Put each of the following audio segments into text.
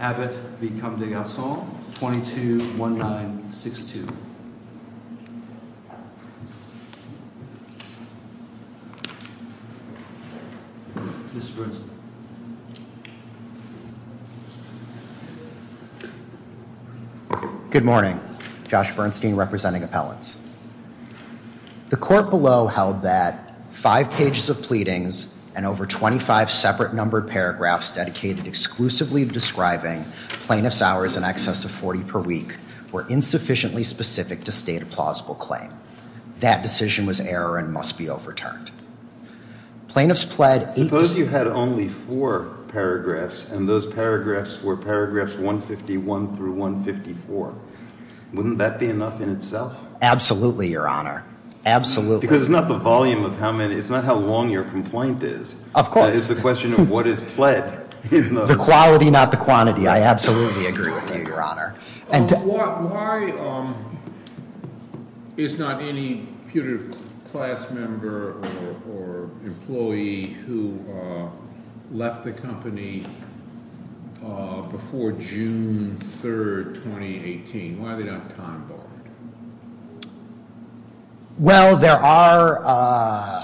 Abbott v. Comte de Garcon, 22-1962. Good morning, Josh Bernstein representing appellants. The court below held that five pages of pleadings and over 25 separate numbered paragraphs dedicated exclusively of describing plaintiff's hours in excess of 40 per week were insufficiently specific to state a plausible claim. That decision was error and must be overturned. Plaintiffs pled... Suppose you had only four paragraphs and those paragraphs were paragraphs 151 through 154. Wouldn't that be enough in itself? Absolutely, your honor. Absolutely. Because it's not the volume of how many, it's not how long your complaint is. Of course. It's a question of what is pled in the quality, not the quantity. I absolutely agree with you, your honor. Why is not any putative class member or employee who left the company before June 3rd, 2018? Why are they not time-barred? Well, there are...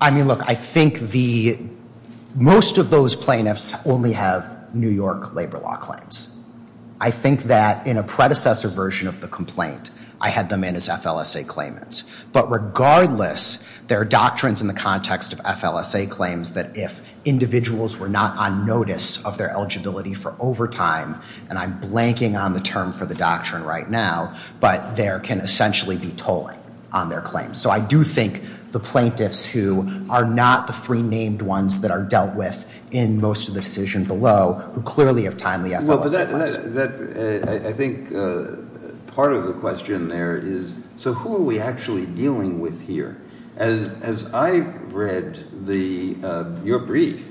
I mean, look, I think the most of those plaintiffs only have New York labor law claims. I think that in a predecessor version of the complaint, I had them in as FLSA claimants. But regardless, there are doctrines in the context of FLSA claims that if individuals were not on notice of their eligibility for overtime, and I'm blanking on the term for the doctrine right now, but there can essentially be tolling on their claims. So I do think the plaintiffs who are not the three named ones that are dealt with in most of the decision below, who clearly have timely FLSA claims. I think part of the question there is, so who are we actually dealing with here? As I read your brief,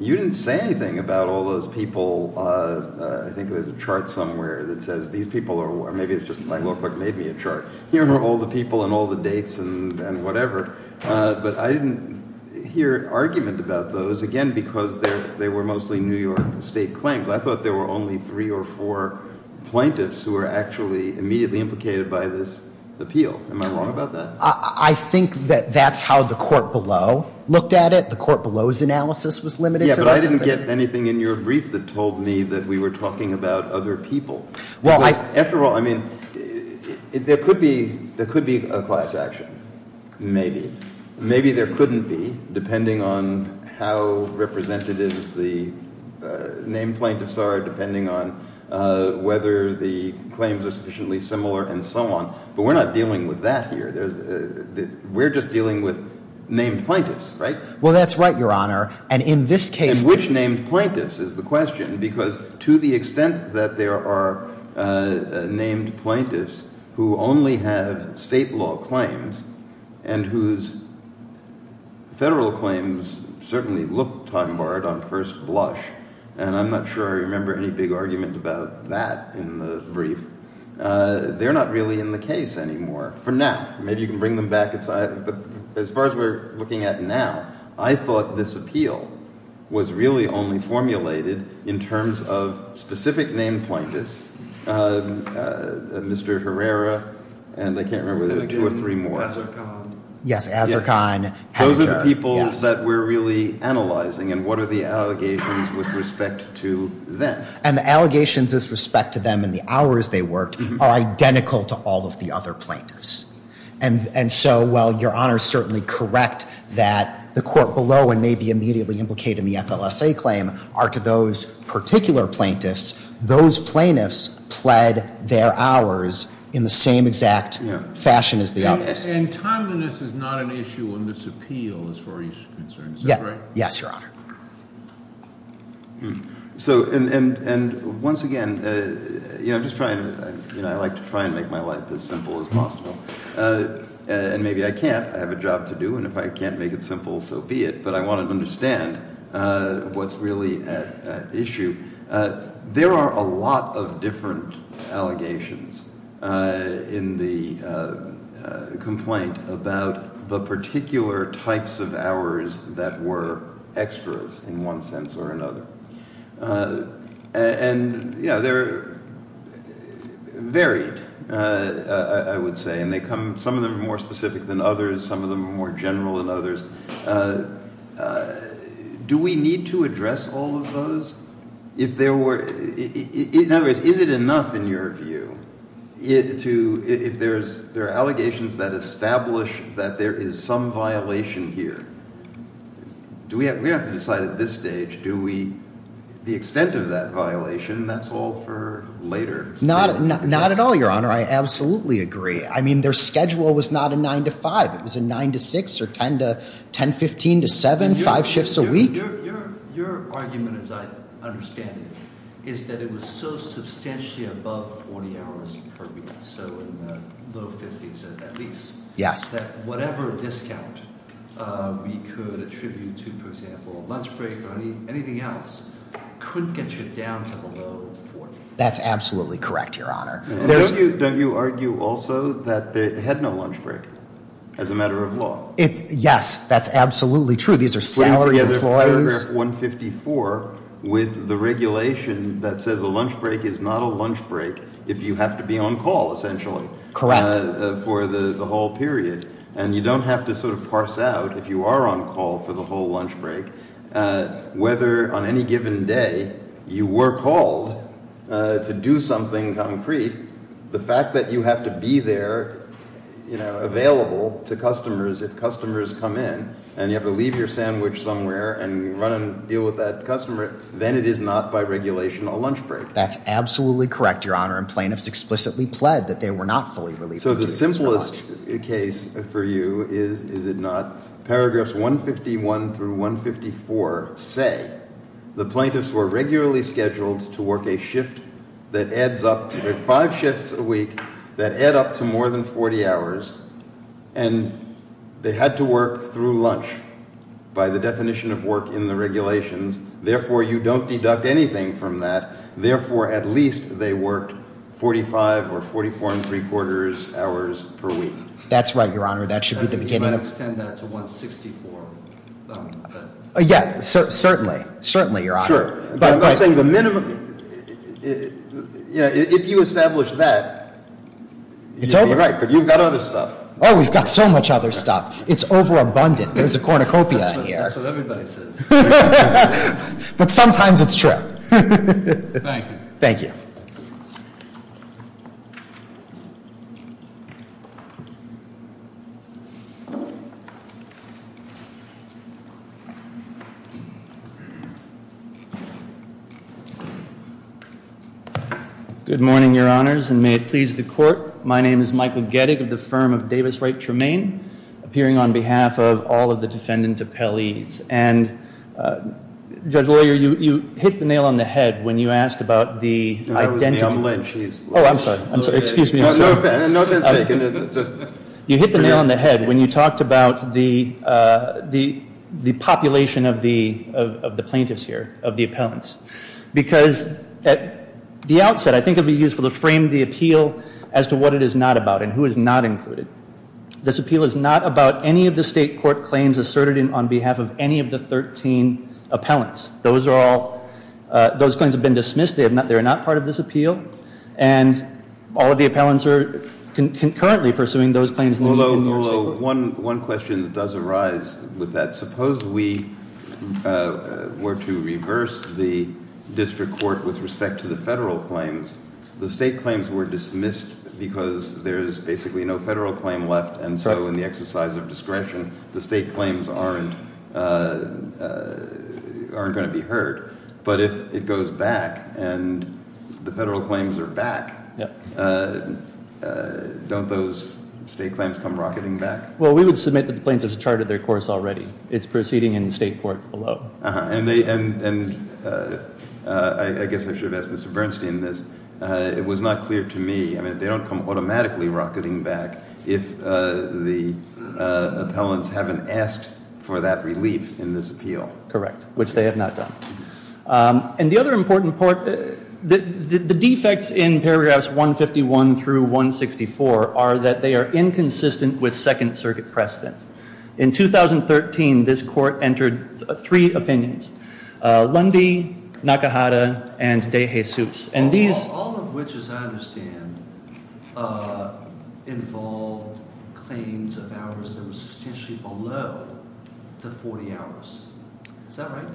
you didn't say anything about all those people... I think there's a chart somewhere that says these people are... or maybe it's just my law clerk made me a chart. Here are all the people and all the dates and whatever. But I didn't hear an argument about those, again, because they were mostly New York state claims. I thought there were only three or four plaintiffs who were actually immediately implicated by this appeal. Am I wrong about that? I think that that's how the court below looked at it. The court below's analysis was limited to this. Yeah, but I didn't get anything in your brief that told me that we were talking about other people. Well, I... After all, I mean, there could be a class action, maybe. Maybe there couldn't be, depending on how representative the named plaintiffs are, depending on whether the claims are sufficiently similar and so on. But we're not dealing with that here. We're just dealing with named plaintiffs, right? Well, that's right, Your Honor. And in this case... Which named plaintiffs is the question? Because to the extent that there are named plaintiffs who only have state law claims and whose federal claims certainly look time-barred on first blush, and I'm not sure I remember any big argument about that in the brief, they're not really in the case anymore for now. Maybe you can bring them back. But as far as we're looking at now, I thought this appeal was really only formulated in terms of specific named plaintiffs. Mr. Herrera, and I can't remember if there were two or three more. Yes, Azarkan. Those are the people that we're really analyzing. And what are the allegations with respect to them? And the allegations with respect to them and the hours they worked are identical to all of the other plaintiffs. And so while Your Honor is certainly correct that the court below and maybe immediately implicated in the FLSA claim are to those particular plaintiffs, those plaintiffs pled their hours in the same exact fashion as the others. And timeliness is not an issue in this appeal as far as you're concerned, is that right? Yes, Your Honor. So – and once again, I'm just trying – I like to try and make my life as simple as possible. And maybe I can't. I have a job to do. And if I can't make it simple, so be it. But I want to understand what's really at issue. There are a lot of different allegations in the complaint about the particular types of hours that were extras in one sense or another. And they're varied, I would say, and they come – some of them are more specific than others. Some of them are more general than others. Do we need to address all of those if there were – in other words, is it enough in your view to – if there are allegations that establish that there is some violation here? Do we – we have to decide at this stage, do we – the extent of that violation, that's all for later. Not at all, Your Honor. I absolutely agree. I mean their schedule was not a 9-to-5. It was a 9-to-6 or 10-to – 10-15-to-7, five shifts a week. Your argument, as I understand it, is that it was so substantially above 40 hours per week, so in the low 50s at least, that whatever discount we could attribute to, for example, a lunch break or anything else, couldn't get you down to below 40. That's absolutely correct, Your Honor. Don't you argue also that they had no lunch break as a matter of law? Yes, that's absolutely true. These are salary employees. Putting together paragraph 154 with the regulation that says a lunch break is not a lunch break if you have to be on call essentially. Correct. And you don't have to sort of parse out if you are on call for the whole lunch break whether on any given day you were called to do something concrete. The fact that you have to be there available to customers if customers come in and you have to leave your sandwich somewhere and run and deal with that customer, then it is not by regulation a lunch break. That's absolutely correct, Your Honor, and plaintiffs explicitly pled that they were not fully relieved of duties for lunch. So the simplest case for you is, is it not, paragraphs 151 through 154 say the plaintiffs were regularly scheduled to work a shift that adds up to – five shifts a week that add up to more than 40 hours, and they had to work through lunch by the definition of work in the regulations. Therefore, you don't deduct anything from that. Therefore, at least they worked 45 or 44 ¾ hours per week. That's right, Your Honor. That should be the beginning. You might extend that to 164. Yeah, certainly. Certainly, Your Honor. Sure. But I'm not saying the minimum – if you establish that, you'd be right, but you've got other stuff. Oh, we've got so much other stuff. It's overabundant. There's a cornucopia in here. That's what everybody says. But sometimes it's true. Thank you. Thank you. Good morning, Your Honors, and may it please the Court. My name is Michael Gettig of the firm of Davis Wright Tremaine, appearing on behalf of all of the defendant appellees. And, Judge Lawyer, you hit the nail on the head when you asked about the identity – That was Ma'am Lynch. Oh, I'm sorry. Excuse me. No offense taken. You hit the nail on the head when you talked about the population of the plaintiffs here, of the appellants. Because at the outset, I think it would be useful to frame the appeal as to what it is not about and who is not included. This appeal is not about any of the state court claims asserted on behalf of any of the 13 appellants. Those are all – those claims have been dismissed. They are not part of this appeal. And all of the appellants are concurrently pursuing those claims. Ullo, one question does arise with that. Suppose we were to reverse the district court with respect to the federal claims. The state claims were dismissed because there is basically no federal claim left. And so in the exercise of discretion, the state claims aren't going to be heard. But if it goes back and the federal claims are back, don't those state claims come rocketing back? Well, we would submit that the plaintiffs have charted their course already. It's proceeding in the state court below. And I guess I should have asked Mr. Bernstein this. It was not clear to me. I mean, they don't come automatically rocketing back if the appellants haven't asked for that relief in this appeal. Correct, which they have not done. And the other important part – the defects in paragraphs 151 through 164 are that they are inconsistent with Second Circuit precedent. In 2013, this court entered three opinions, Lundy, Nakahara, and de Jesus. All of which, as I understand, involved claims of hours that were substantially below the 40 hours. Is that right?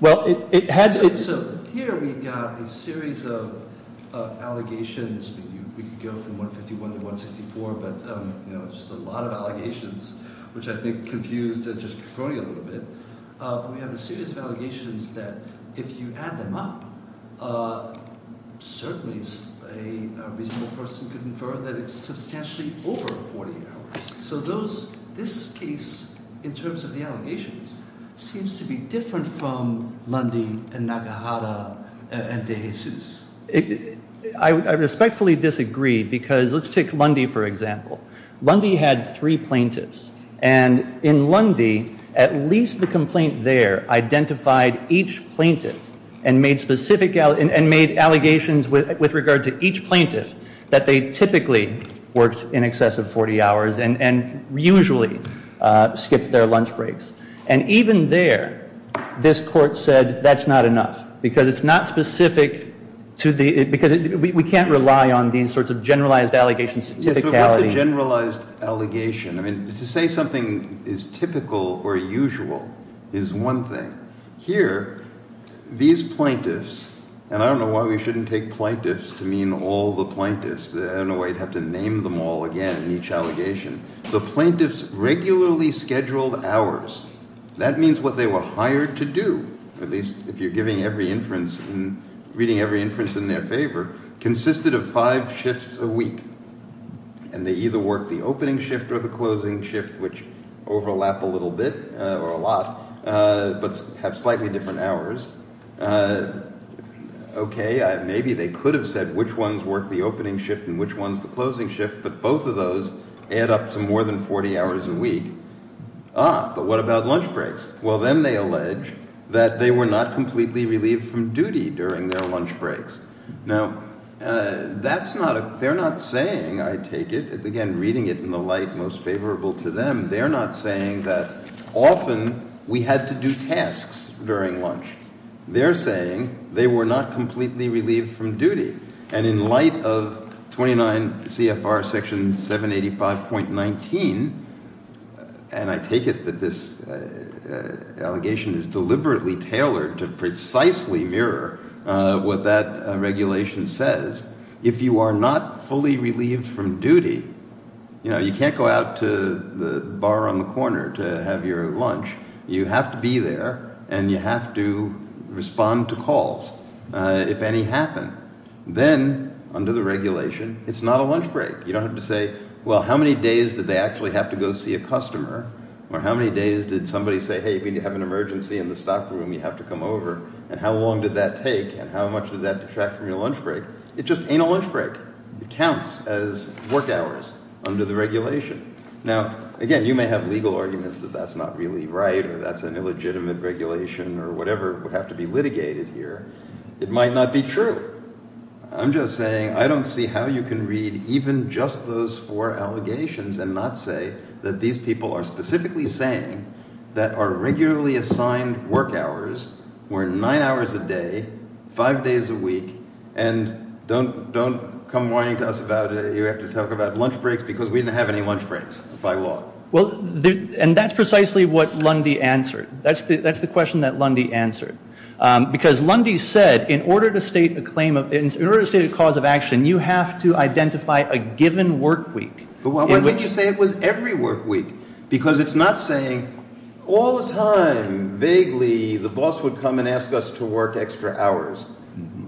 Well, it had to be. So here we've got a series of allegations. We could go from 151 to 164, but it's just a lot of allegations, which I think confused the district attorney a little bit. But we have a series of allegations that, if you add them up, certainly a reasonable person could infer that it's substantially over 40 hours. So this case, in terms of the allegations, seems to be different from Lundy and Nakahara and de Jesus. I respectfully disagree because – let's take Lundy, for example. Lundy had three plaintiffs. And in Lundy, at least the complaint there identified each plaintiff and made specific – and made allegations with regard to each plaintiff that they typically worked in excess of 40 hours and usually skipped their lunch breaks. And even there, this court said, that's not enough. Because it's not specific to the – because we can't rely on these sorts of generalized allegations. Yes, but what's a generalized allegation? I mean, to say something is typical or usual is one thing. Here, these plaintiffs – and I don't know why we shouldn't take plaintiffs to mean all the plaintiffs. I don't know why you'd have to name them all again in each allegation. The plaintiffs regularly scheduled hours. That means what they were hired to do, at least if you're giving every inference and reading every inference in their favor, consisted of five shifts a week. And they either worked the opening shift or the closing shift, which overlap a little bit or a lot, but have slightly different hours. Okay, maybe they could have said which ones work the opening shift and which ones the closing shift, but both of those add up to more than 40 hours a week. Ah, but what about lunch breaks? Well, then they allege that they were not completely relieved from duty during their lunch breaks. Now, that's not a – they're not saying, I take it – again, reading it in the light most favorable to them, they're not saying that often we had to do tasks during lunch. They're saying they were not completely relieved from duty. And in light of 29 CFR Section 785.19, and I take it that this allegation is deliberately tailored to precisely mirror what that regulation says, if you are not fully relieved from duty, you know, you can't go out to the bar on the corner to have your lunch. You have to be there and you have to respond to calls if any happen. Then, under the regulation, it's not a lunch break. You don't have to say, well, how many days did they actually have to go see a customer? Or how many days did somebody say, hey, if you need to have an emergency in the stock room, you have to come over. And how long did that take and how much did that detract from your lunch break? It just ain't a lunch break. It counts as work hours under the regulation. Now, again, you may have legal arguments that that's not really right or that's an illegitimate regulation or whatever would have to be litigated here. It might not be true. I'm just saying I don't see how you can read even just those four allegations and not say that these people are specifically saying that our regularly assigned work hours were nine hours a day, five days a week. And don't come whining to us about it. You have to talk about lunch breaks because we didn't have any lunch breaks by law. Well, and that's precisely what Lundy answered. That's the question that Lundy answered. Because Lundy said in order to state a cause of action, you have to identify a given work week. But why didn't you say it was every work week? Because it's not saying all the time, vaguely, the boss would come and ask us to work extra hours.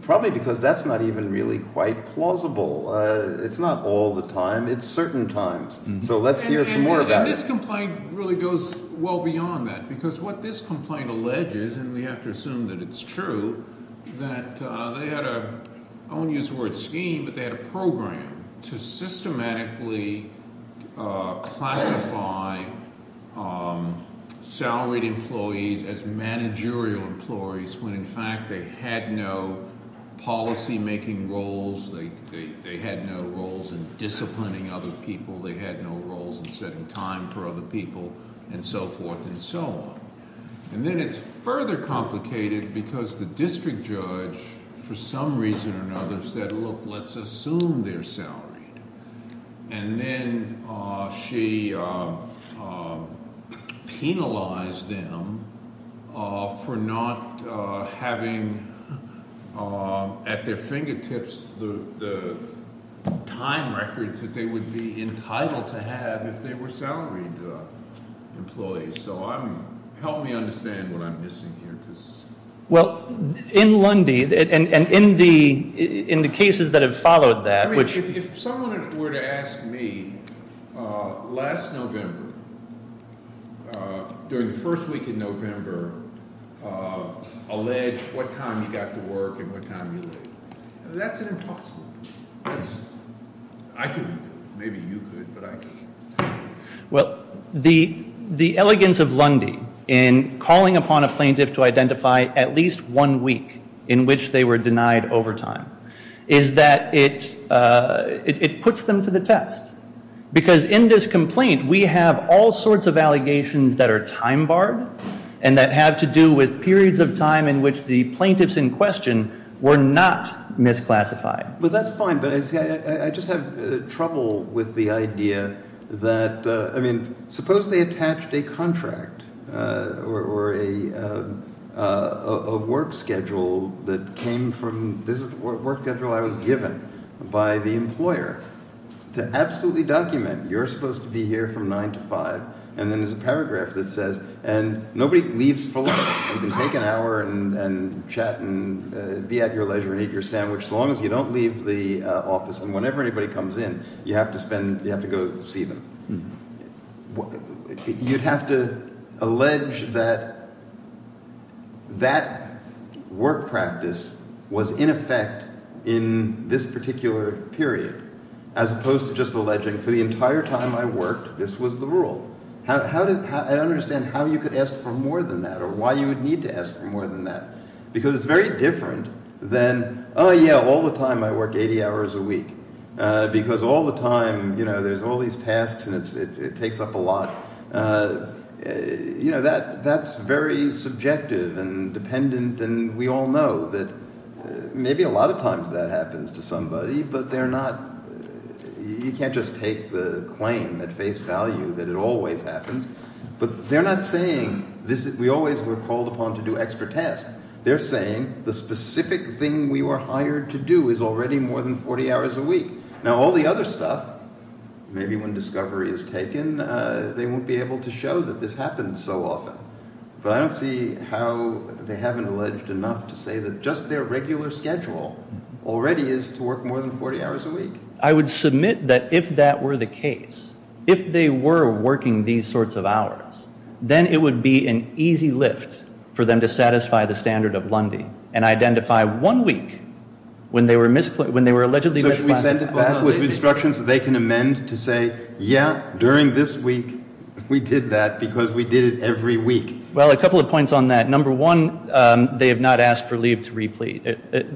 Probably because that's not even really quite plausible. It's not all the time. It's certain times. So let's hear some more about it. This complaint really goes well beyond that because what this complaint alleges, and we have to assume that it's true, that they had a, I won't use the word scheme, but they had a program to systematically classify salaried employees as managerial employees when in fact they had no policy making roles. They had no roles in disciplining other people. They had no roles in setting time for other people and so forth and so on. And then it's further complicated because the district judge, for some reason or another, said, look, let's assume they're salaried. And then she penalized them for not having at their fingertips the time records that they would be entitled to have if they were salaried employees. So help me understand what I'm missing here. Well, in Lundy, and in the cases that have followed that, which I mean, if someone were to ask me, last November, during the first week in November, alleged what time you got to work and what time you leave. That's an impossible thing. I could, maybe you could, but I can't. Well, the elegance of Lundy in calling upon a plaintiff to identify at least one week in which they were denied overtime, is that it puts them to the test. Because in this complaint, we have all sorts of allegations that are time barred and that have to do with periods of time in which the plaintiffs in question were not misclassified. Well, that's fine. But I just have trouble with the idea that, I mean, suppose they attached a contract or a work schedule that came from – this is the work schedule I was given by the employer to absolutely document. You're supposed to be here from 9 to 5. And then there's a paragraph that says – and nobody leaves for lunch. You can take an hour and chat and be at your leisure and eat your sandwich as long as you don't leave the office. And whenever anybody comes in, you have to spend – you have to go see them. You'd have to allege that that work practice was in effect in this particular period, as opposed to just alleging for the entire time I worked, this was the rule. I don't understand how you could ask for more than that or why you would need to ask for more than that. Because it's very different than, oh, yeah, all the time I work 80 hours a week. Because all the time there's all these tasks and it takes up a lot. That's very subjective and dependent. And we all know that maybe a lot of times that happens to somebody, but they're not – we always were called upon to do extra tasks. They're saying the specific thing we were hired to do is already more than 40 hours a week. Now all the other stuff, maybe when discovery is taken, they won't be able to show that this happens so often. But I don't see how they haven't alleged enough to say that just their regular schedule already is to work more than 40 hours a week. I would submit that if that were the case, if they were working these sorts of hours, then it would be an easy lift for them to satisfy the standard of Lundy and identify one week when they were allegedly misclassified. So should we send it back with instructions that they can amend to say, yeah, during this week we did that because we did it every week? Well, a couple of points on that. Number one, they have not asked for leave to replete.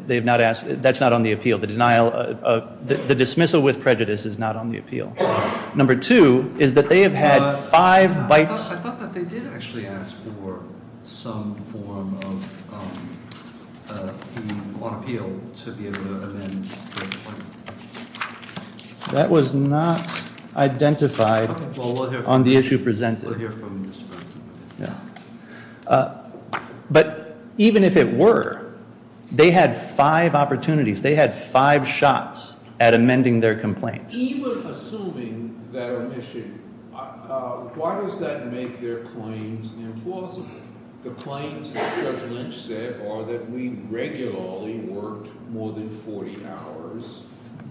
They have not asked – that's not on the appeal. The dismissal with prejudice is not on the appeal. Number two is that they have had five bites – That was not identified on the issue presented. But even if it were, they had five opportunities. They had five shots at amending their complaint. Even assuming that omission, why does that make their claims implausible? The claims that Judge Lynch said are that we regularly worked more than 40 hours,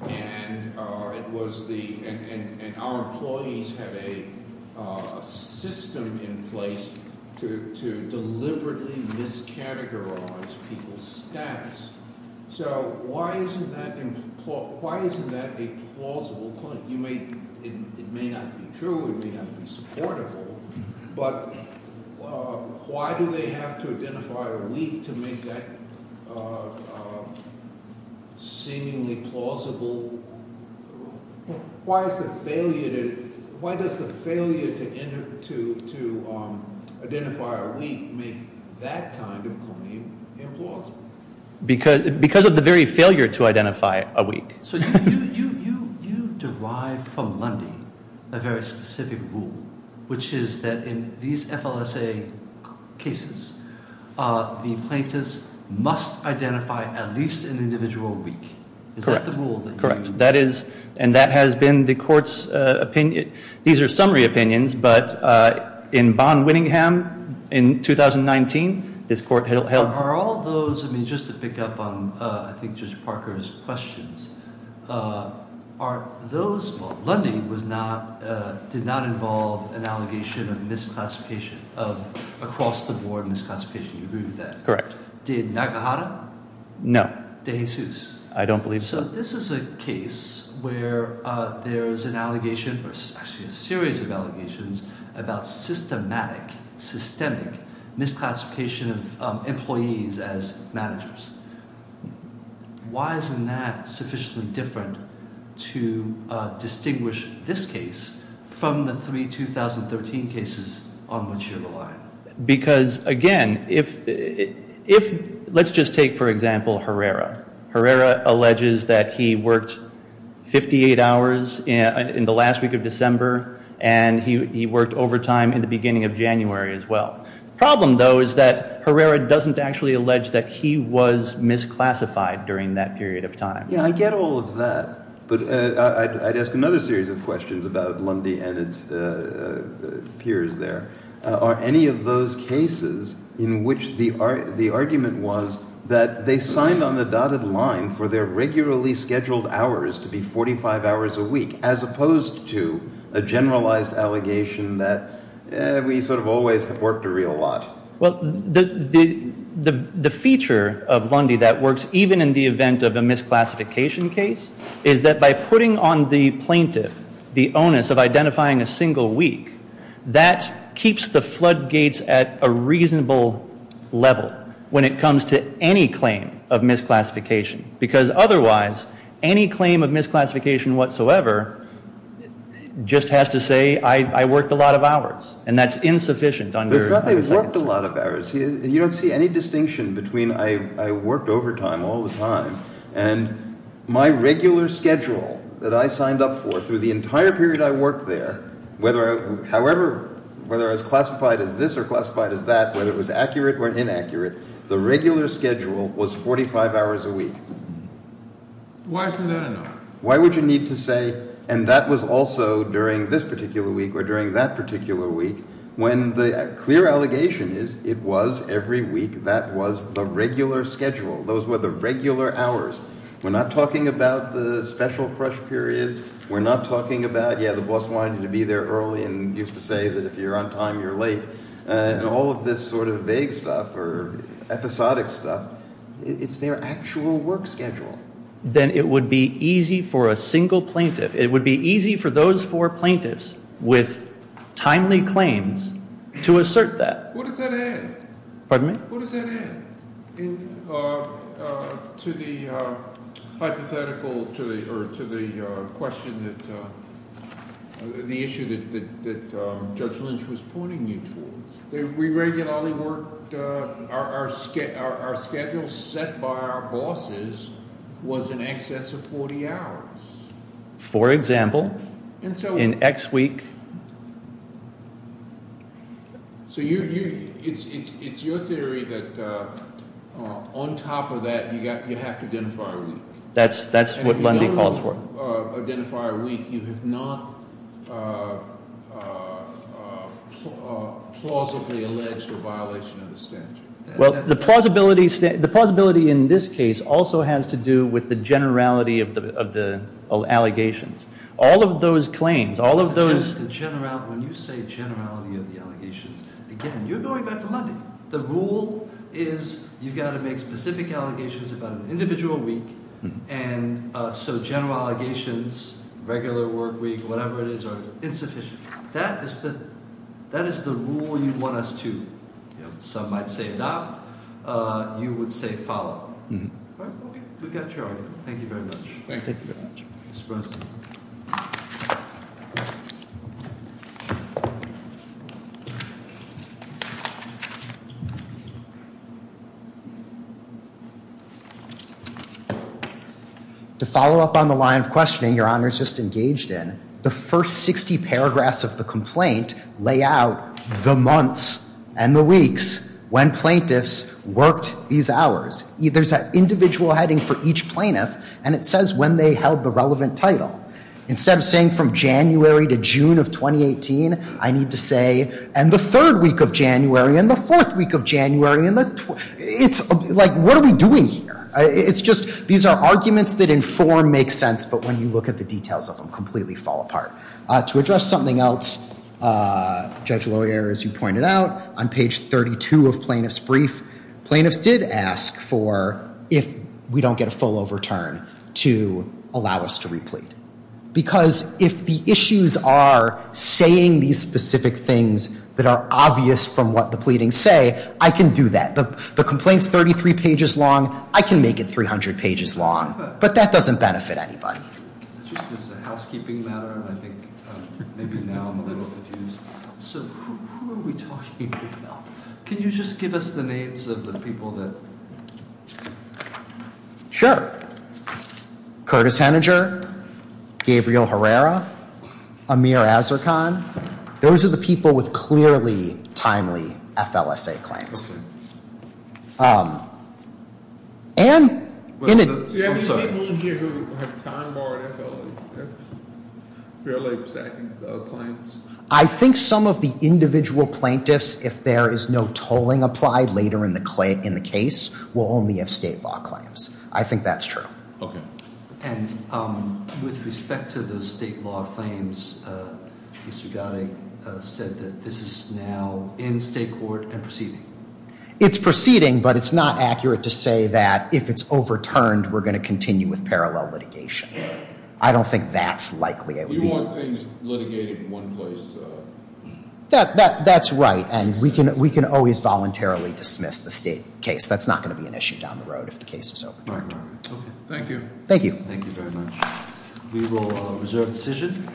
and our employees have a system in place to deliberately miscategorize people's status. So why isn't that a plausible claim? It may not be true. It may not be supportable. But why do they have to identify a week to make that seemingly plausible? Why is the failure to identify a week make that kind of claim implausible? Because of the very failure to identify a week. So you derive from Lundy a very specific rule, which is that in these FLSA cases, the plaintiffs must identify at least an individual week. Correct. Is that the rule that you use? Correct. And that has been the court's opinion. These are summary opinions, but in Bonn-Winningham in 2019, this court held – Just to pick up on, I think, Judge Parker's questions, Lundy did not involve an allegation of misclassification, of across-the-board misclassification. Do you agree with that? Correct. Did Nakahara? No. De Jesus? I don't believe so. So this is a case where there is an allegation, or actually a series of allegations, about systematic, systemic misclassification of employees as managers. Why isn't that sufficiently different to distinguish this case from the three 2013 cases on which you're relying? Because, again, if – let's just take, for example, Herrera. Herrera alleges that he worked 58 hours in the last week of December, and he worked overtime in the beginning of January as well. The problem, though, is that Herrera doesn't actually allege that he was misclassified during that period of time. Yeah, I get all of that, but I'd ask another series of questions about Lundy and its peers there. Are any of those cases in which the argument was that they signed on the dotted line for their regularly scheduled hours to be 45 hours a week, as opposed to a generalized allegation that we sort of always have worked a real lot? Well, the feature of Lundy that works even in the event of a misclassification case is that by putting on the plaintiff the onus of identifying a single week, that keeps the floodgates at a reasonable level when it comes to any claim of misclassification. Because otherwise, any claim of misclassification whatsoever just has to say I worked a lot of hours, and that's insufficient under – It's not that he worked a lot of hours. You don't see any distinction between I worked overtime all the time and my regular schedule that I signed up for through the entire period I worked there, however, whether as classified as this or classified as that, whether it was accurate or inaccurate, the regular schedule was 45 hours a week. Why isn't that enough? Why would you need to say, and that was also during this particular week or during that particular week, when the clear allegation is it was every week that was the regular schedule. Those were the regular hours. We're not talking about the special crush periods. We're not talking about, yeah, the boss wanted you to be there early and used to say that if you're on time, you're late, and all of this sort of vague stuff or episodic stuff. It's their actual work schedule. Then it would be easy for a single plaintiff, it would be easy for those four plaintiffs with timely claims to assert that. What does that add? Pardon me? The issue that Judge Lynch was pointing you towards. We regularly worked, our schedule set by our bosses was in excess of 40 hours. For example, in X week. It's your theory that on top of that, you have to identify a week. That's what Lundy calls for. You have to identify a week. You have not plausibly alleged a violation of the statute. The plausibility in this case also has to do with the generality of the allegations. All of those claims, all of those. When you say generality of the allegations, again, you're going back to Lundy. The rule is you've got to make specific allegations about an individual week, so general allegations, regular work week, whatever it is, are insufficient. That is the rule you want us to, some might say, adopt. You would say follow. We got your argument. Thank you very much. Thank you very much. Mr. Breslin. To follow up on the line of questioning your honors just engaged in, the first 60 paragraphs of the complaint lay out the months and the weeks when plaintiffs worked these hours. There's an individual heading for each plaintiff, and it says when they held the relevant title. Instead of saying from January to June of 2018, I need to say, and the third week of January, and the fourth week of January, it's like, what are we doing here? It's just, these are arguments that inform, make sense, but when you look at the details of them, completely fall apart. To address something else, Judge Loyer, as you pointed out, on page 32 of plaintiff's brief, plaintiffs did ask for if we don't get a full overturn to allow us to replete. Because if the issues are saying these specific things that are obvious from what the pleadings say, I can do that. The complaint's 33 pages long. I can make it 300 pages long. But that doesn't benefit anybody. Just as a housekeeping matter, I think maybe now I'm a little confused. So who are we talking about? Can you just give us the names of the people that? Sure. Curtis Henninger, Gabriel Herrera, Amir Azarkan. Those are the people with clearly timely FLSA claims. Do you have any people in here who have time-borrowed FLSA claims? I think some of the individual plaintiffs, if there is no tolling applied later in the case, will only have state law claims. I think that's true. And with respect to those state law claims, Mr. Gotti said that this is now in state court and proceeding. It's proceeding, but it's not accurate to say that if it's overturned, we're going to continue with parallel litigation. I don't think that's likely. You want things litigated in one place. That's right, and we can always voluntarily dismiss the state case. That's not going to be an issue down the road if the case is overturned. Thank you. Thank you very much. We will reserve the decision.